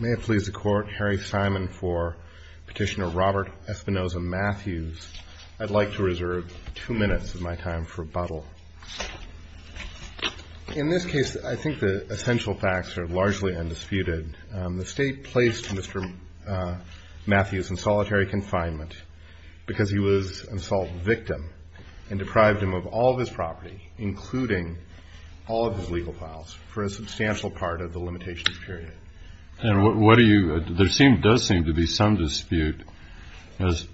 May it please the Court, Harry Simon for Petitioner Robert Espinoza-Matthews. I'd like to reserve two minutes of my time for rebuttal. In this case, I think the essential facts are largely undisputed. The State placed Mr. Matthews in solitary confinement because he was an assault victim and deprived him of all of his property, including all of his legal files, for a substantial part of the limitations period. And what do you – there does seem to be some dispute as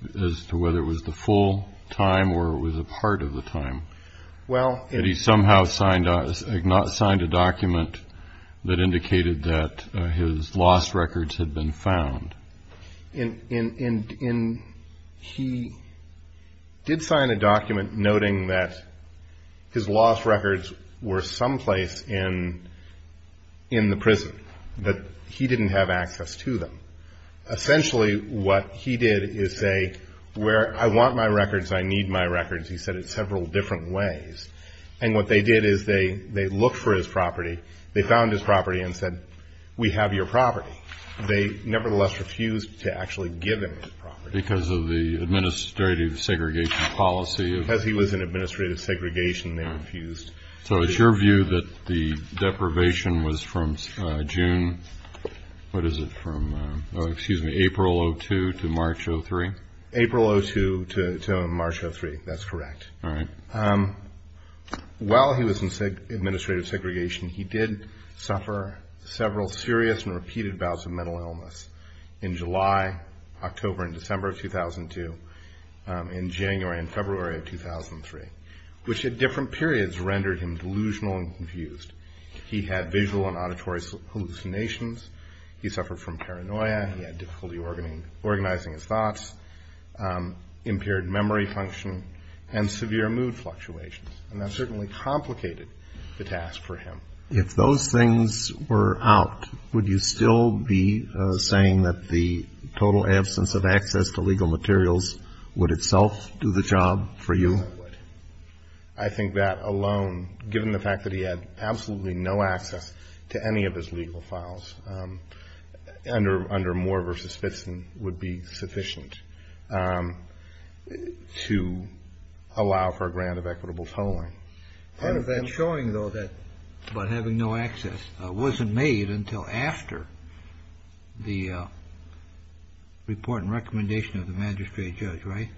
to whether it was the full time or it was a part of the time. Well – Had he somehow signed a document that indicated that his lost records had been found? In – he did sign a document noting that his lost records were someplace in the prison, but he didn't have access to them. Essentially, what he did is say, where I want my records, I need my records. He said it several different ways. And what they did is they looked for his refused to actually give him his property. Because of the administrative segregation policy of – Because he was in administrative segregation, they refused to – So it's your view that the deprivation was from June – what is it, from – oh, excuse me, April of 2002 to March of 2003? April of 2002 to March of 2003. That's correct. All right. While he was in administrative segregation, he did suffer several serious and repeated bouts of mental illness in July, October, and December of 2002, in January and February of 2003, which at different periods rendered him delusional and confused. He had visual and auditory hallucinations. He suffered from paranoia. He had difficulty organizing his thoughts, impaired memory function, and severe mood fluctuations. And that certainly complicated the task for him. If those things were out, would you still be saying that the total absence of access to legal materials would itself do the job for you? Yes, I would. I think that alone, given the fact that he had absolutely no access to any of his legal files under Moore v. Spitzen, would be sufficient to allow for a grant of equitable tolling. Part of that is showing, though, that having no access wasn't made until after the report and recommendation of the magistrate judge, right?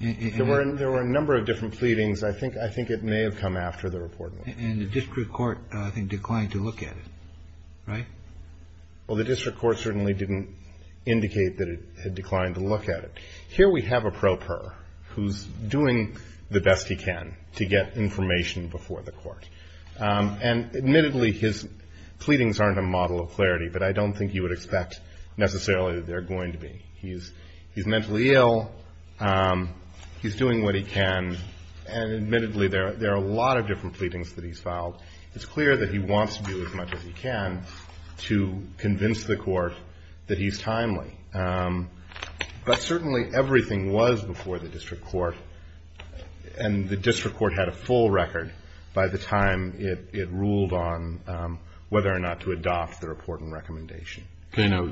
There were a number of different pleadings. I think it may have come after the report and recommendation. And the district court, I think, declined to look at it, right? Well, the district court certainly didn't indicate that it had declined to look at it. Here we have a pro per who's doing the best he can to get information before the court. And admittedly, his pleadings aren't a model of clarity, but I don't think you would expect necessarily that they're going to be. He's mentally ill. He's doing what he can. And admittedly, there are a lot of different pleadings that he's filed. It's clear that he wants to do as much as he can to convince the court that he's timely. But certainly, everything was before the district court, and the district court had a full record by the time it ruled on whether or not to adopt the report and recommendation. Okay. Now,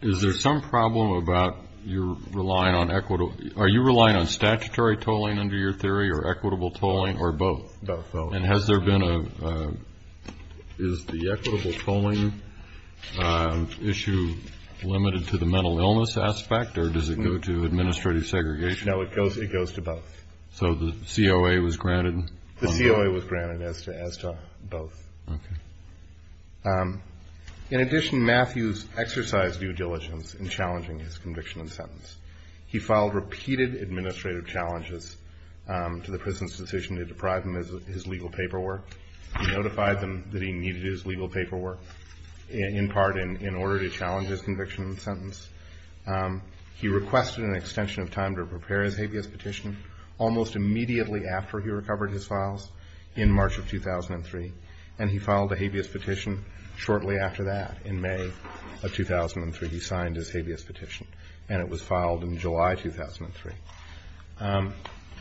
is there some problem about your relying on equitable? Are you relying on statutory tolling under your theory or equitable tolling or both? Both. And has there been a, is the equitable tolling issue limited to the mental illness aspect, or does it go to administrative segregation? No, it goes to both. So the COA was granted? The COA was granted as to both. Okay. In addition, Matthews exercised due diligence in challenging his conviction and sentence. He filed repeated administrative challenges to the prison's decision to deprive him of his legal paperwork. He notified them that he needed his legal paperwork in part in order to challenge his conviction and sentence. He requested an extension of time to prepare his habeas petition almost immediately after he recovered his files in March of 2003, and he filed a habeas petition shortly after that in May of 2003. He signed his habeas petition, and it was filed in July 2003.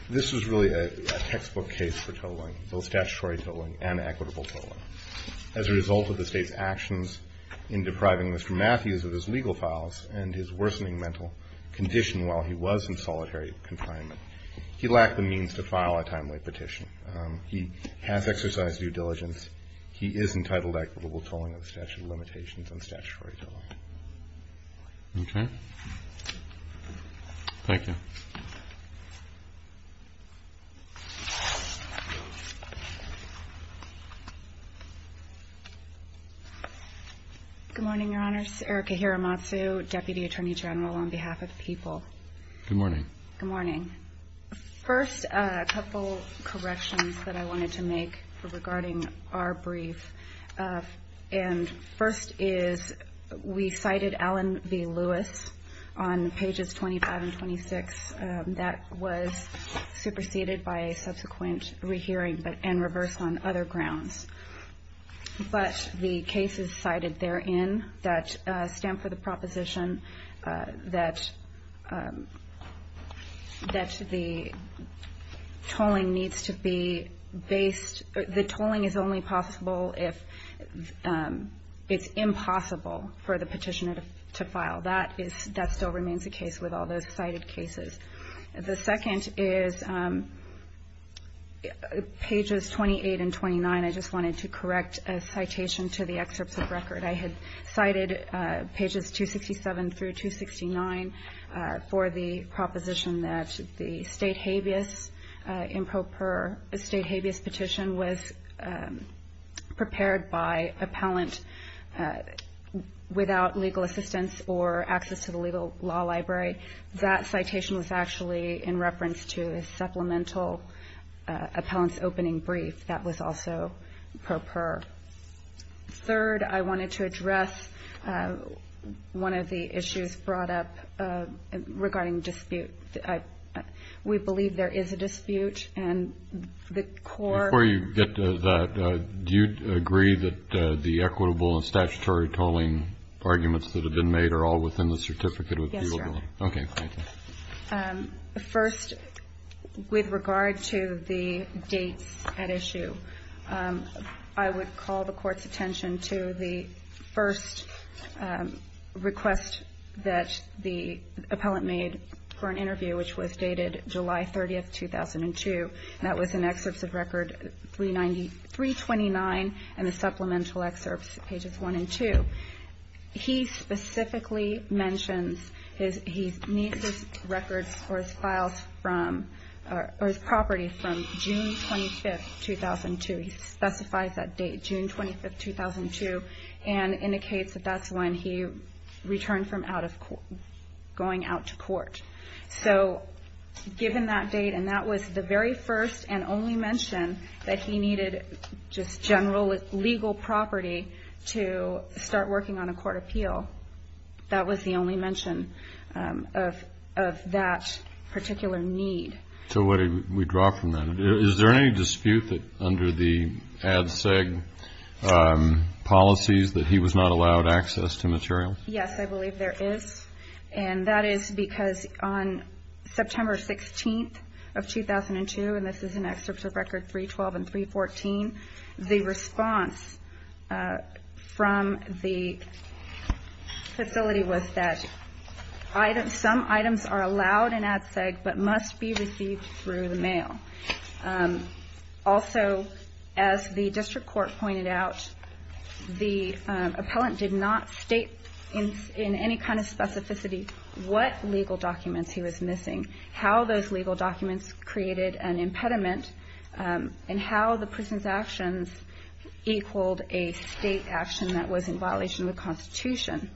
This was really a textbook case for tolling, both statutory tolling and equitable tolling. As a result of the state's actions in depriving Mr. Matthews of his legal files and his worsening mental condition while he was in solitary confinement, he lacked the means to file a timely petition. He has exercised due diligence. He is entitled to equitable tolling of the statute of limitations and statutory tolling. Okay. Thank you. Good morning, Your Honors. Erica Hiramatsu, Deputy Attorney General on behalf of the people. Good morning. Good morning. First, a couple of corrections that I wanted to make regarding our brief. And first is, we cited Allen v. Lewis on pages 25 and 26. That was superseded by a subsequent rehearing and reversed on other grounds. But the cases cited therein that stand for the fact that the tolling needs to be based, the tolling is only possible if it's impossible for the petitioner to file. That still remains the case with all those cited cases. The second is pages 28 and 29. I just wanted to correct a citation to the excerpts of record. I had cited pages 267 through 269 for the proposition that the state habeas in pro per a state habeas petition was prepared by appellant without legal assistance or access to the legal law library. That citation was actually in reference to a supplemental appellant's opening brief that was also pro per. Third, I wanted to address one of the issues brought up regarding dispute. We believe there is a dispute and the court... Before you get to that, do you agree that the equitable and statutory tolling arguments that have been made are all within the certificate of viewability? Yes, Your Honor. Okay, thank you. First, with regard to the dates at issue, I would call the court's attention to the first request that the appellant made for an interview, which was dated July 30, 2002. That was in excerpts of record 329 and the supplemental excerpts, pages 1 and 2. He specifically mentions he needs his records or his files or his property from June 25, 2002. He specifies that date, June 25, 2002, and indicates that's when he returned from going out to court. Given that date, and that was the very first and only mention that he needed just general legal property to start working on a court appeal, that was the only mention of that particular need. So what did we draw from that? Is there any dispute that under the ADSEG policies that he was not allowed access to materials? Yes, I believe there is. And that is because on September 16, 2002, and this is in excerpts of record 312 and 314, the response from the facility was that some items are allowed in ADSEG but must be received through the mail. Also, as the district court pointed out, the appellant did not state in any kind of specificity what legal documents he was missing, how those legal documents created an impediment, and how the prison's actions equaled a state action that was in violation of the Constitution.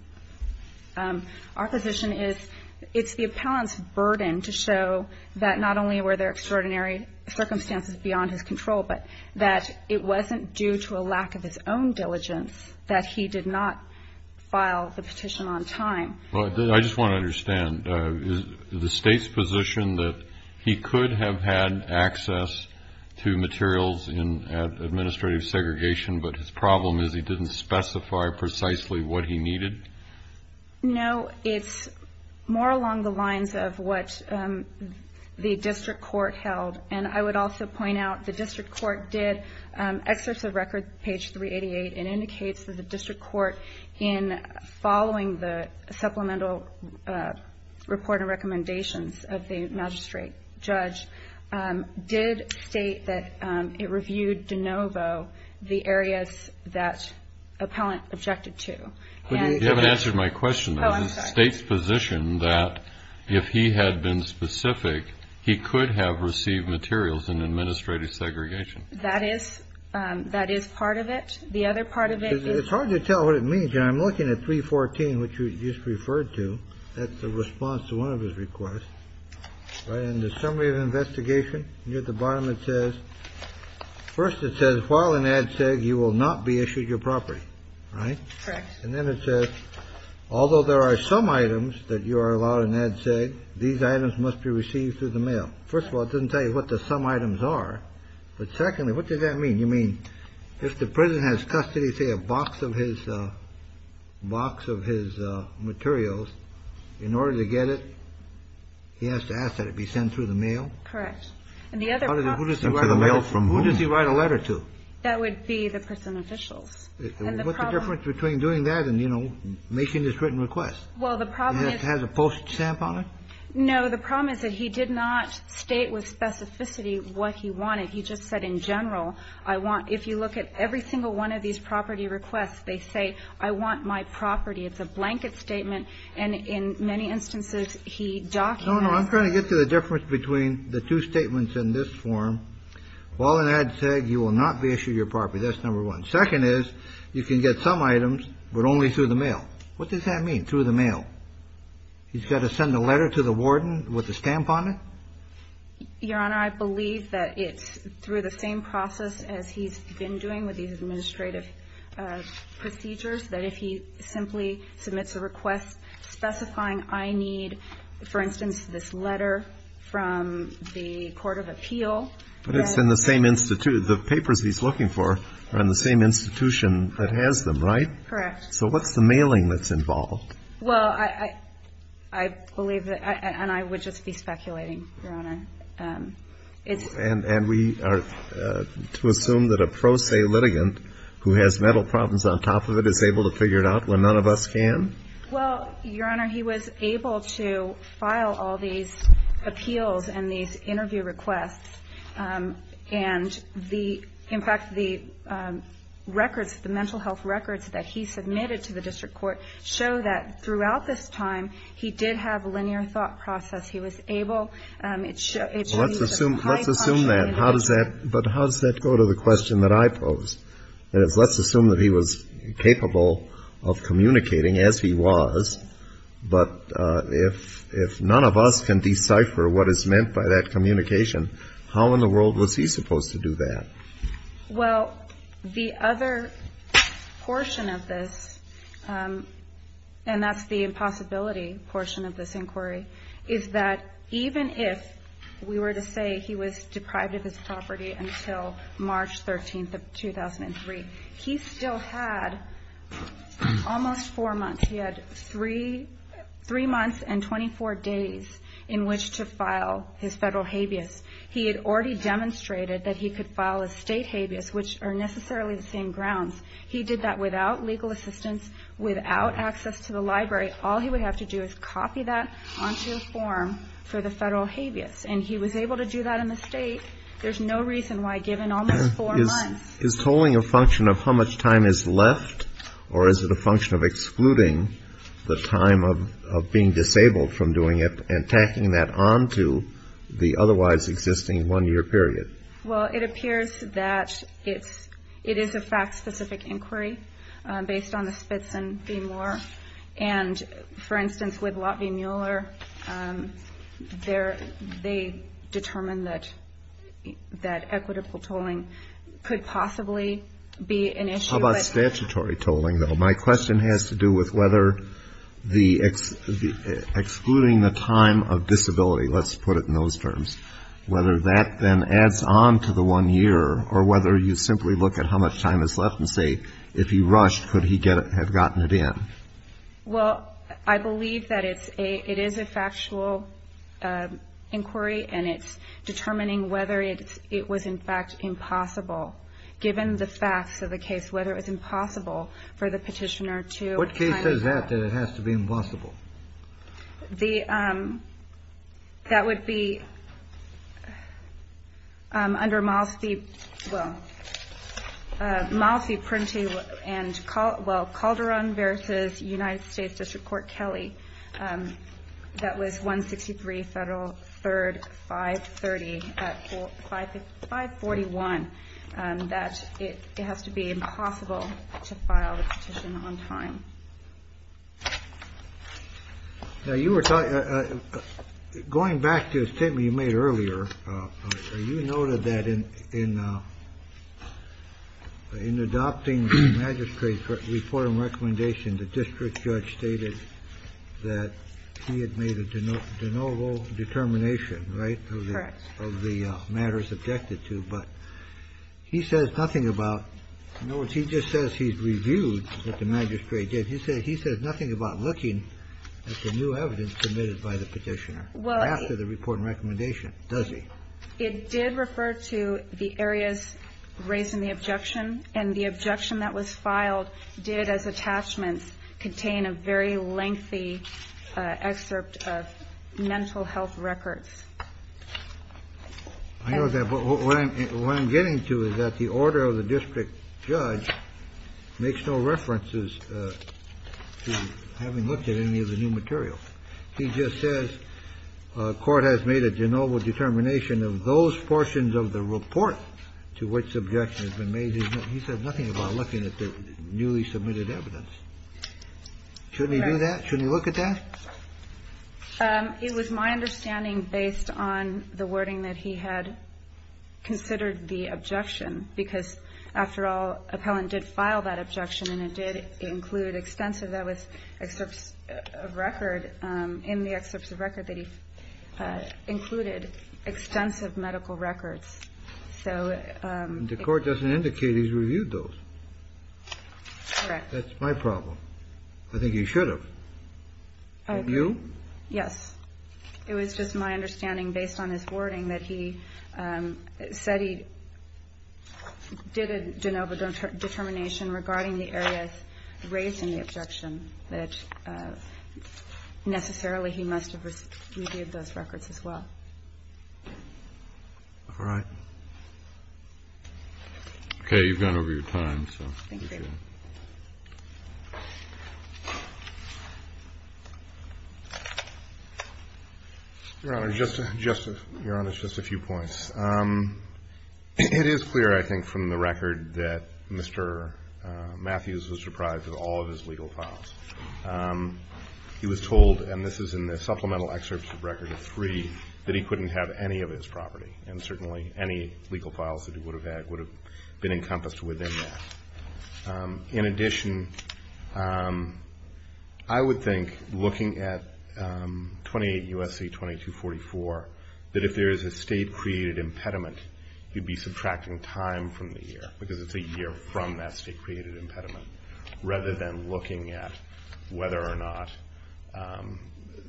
Our position is it's the appellant's burden to show that not only were there extraordinary circumstances beyond his control, but that it wasn't due to a lack of his own diligence that he did not file the petition on time. I just want to understand, is the state's position that he could have had access to materials in administrative segregation, but his problem is he didn't specify precisely what he needed? No, it's more along the lines of what the district court held. And I would also point out the district court did, excerpts of record page 388, it indicates that the district court in following the supplemental report and recommendations of the magistrate judge, did state that it reviewed de novo the areas that appellant objected to. You haven't answered my question. Oh, I'm sorry. Is the state's position that if he had been specific, he could have received materials in administrative segregation? That is part of it. The other part of it is... It's hard to tell what it means. I'm looking at 314, which you just referred to. That's the response to one of his requests. In the summary of investigation, at the bottom it says, first, it says, while in ADSEG, you will not be issued your property. Right. And then it says, although there are some items that you are allowed in ADSEG, these items must be received through the mail. First of all, it doesn't tell you what the some items are. But secondly, what does that mean? You mean, if the prison has custody, say, a box of his materials, in order to get it, he has to ask that it be sent through the mail? Correct. And the other part is... Who does he write a letter to? That would be the prison officials. What's the difference between doing that and, you know, making this written request? Well, the problem is... It has a post stamp on it? No. The problem is that he did not state with specificity what he wanted. He just said, in general, I want – if you look at every single one of these property requests, they say, I want my property. It's a blanket statement. And in many instances, he documents... No, no. I'm trying to get to the difference between the two statements in this form. While in ADSEG, you will not be issued your property. That's number one. Second is, you can get some items, but only through the mail. What does that mean, through the mail? He's got to send a letter to the warden with a stamp on it? Your Honor, I believe that it's through the same process as he's been doing with these administrative procedures, that if he simply submits a request specifying, I need, for instance, this letter from the court of appeal... But it's in the same institute. The papers he's looking for are in the same institution that has them, right? Correct. So what's the mailing that's involved? Well, I believe that, and I would just be speculating, Your Honor. And we are to assume that a pro se litigant, who has mental problems on top of it, is able to figure it out when none of us can? Well, Your Honor, he was able to file all these appeals and these interview requests. And in fact, the records, the mental health records that he submitted to the district court, show that throughout this time, he did have a linear thought process. He was able, it shows he's a high-profile individual. Well, let's assume that, but how does that go to the question that I posed? That is, let's assume that he was capable of communicating, as he was. But if none of us can decipher what is meant by that communication, how in the world was he supposed to do that? Well, the other portion of this, and that's the impossibility portion of this inquiry, is that even if we were to say he was deprived of his property until March 13th of 2003, he still had almost four months. He had three months and 24 days in which to file his federal habeas. He had already demonstrated that he could file a state habeas, which are necessarily the same grounds. He did that without legal assistance, without access to the library. All he would have to do is copy that onto a form for the federal habeas. And he was able to do that in the state. There's no reason why, given almost four months. Is tolling a function of how much time is left, or is it a function of excluding the time of being disabled from doing it and tacking that onto the otherwise existing one-year period? Well, it appears that it is a fact-specific inquiry based on the Spitzen v. Moore. And, for instance, with Lott v. Mueller, they determined that equitable tolling could possibly be an issue. How about statutory tolling, though? My question has to do with whether excluding the time of disability, let's put it in those terms, whether that then adds on to the one year, or whether you simply look at how much time is left and say, if he rushed, could he have gotten it in? Well, I believe that it is a factual inquiry, and it's determining whether it was, in fact, impossible. Given the facts of the case, whether it was impossible for the petitioner to kind of do that. What case says that, that it has to be impossible? That would be under Malski, well, Malski, Prenti, and, well, Calderon v. United States District Court Kelly. That was 163 Federal 3rd, 530, 541, that it has to be impossible to file the petition on time. Now, you were talking, going back to a statement you made earlier, you noted that in adopting the magistrate's report and recommendation, the district judge stated that he had made a de novo determination, right, of the matters objected to. But he says nothing about, in other words, he just says he's reviewed what the magistrate did. He says nothing about looking at the new evidence submitted by the petitioner after the report and recommendation, does he? It did refer to the areas raised in the objection, and the objection that was filed did, as attachments, contain a very lengthy excerpt of mental health records. I know that, but what I'm getting to is that the order of the district judge makes no references to having looked at any of the new material. He just says court has made a de novo determination of those portions of the report to which objection has been made. He says nothing about looking at the newly submitted evidence. Shouldn't he do that? Shouldn't he look at that? It was my understanding, based on the wording that he had considered the objection, because, after all, appellant did file that objection, and it did include extensive medical records, so that was an excerpt of record, in the excerpt of record that he included extensive medical records. So the court doesn't indicate he's reviewed those. Correct. That's my problem. I think he should have. Have you? Yes. It was just my understanding, based on his wording, that he said he did a de novo determination regarding the areas raised in the objection, that necessarily he must have reviewed those records as well. All right. Okay. You've gone over your time, so. Thank you. Your Honor, just a few points. It is clear, I think, from the record that Mr. Matthews was surprised at all of his legal files. He was told, and this is in the supplemental excerpt of record of three, that he couldn't have any of his property, and certainly any legal files that he would have had would have been encompassed within that. In addition, I would think, looking at 28 U.S.C. 2244, that if there is a state-created impediment, you'd be subtracting time from the year, because it's a year from that state-created impediment, rather than looking at whether or not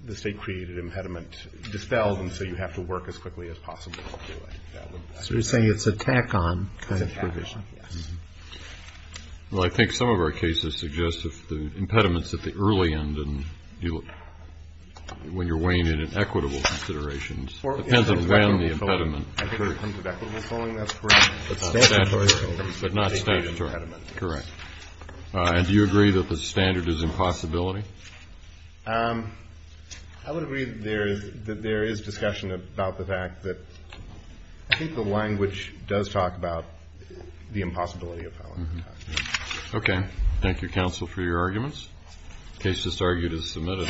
the state-created impediment dispelled, and so you have to work as quickly as possible to do it. So you're saying it's a tack-on kind of provision. Well, I think some of our cases suggest if the impediments at the early end, and when you're weighing in at equitable considerations, depends on the impediment. I think it depends on the equitable following, that's correct. But not statutory. But not statutory. State-created impediment. Correct. And do you agree that the standard is impossibility? I would agree that there is discussion about the fact that I think the language does talk about the impossibility of following. Okay. Thank you, counsel, for your arguments. The case that's argued is submitted.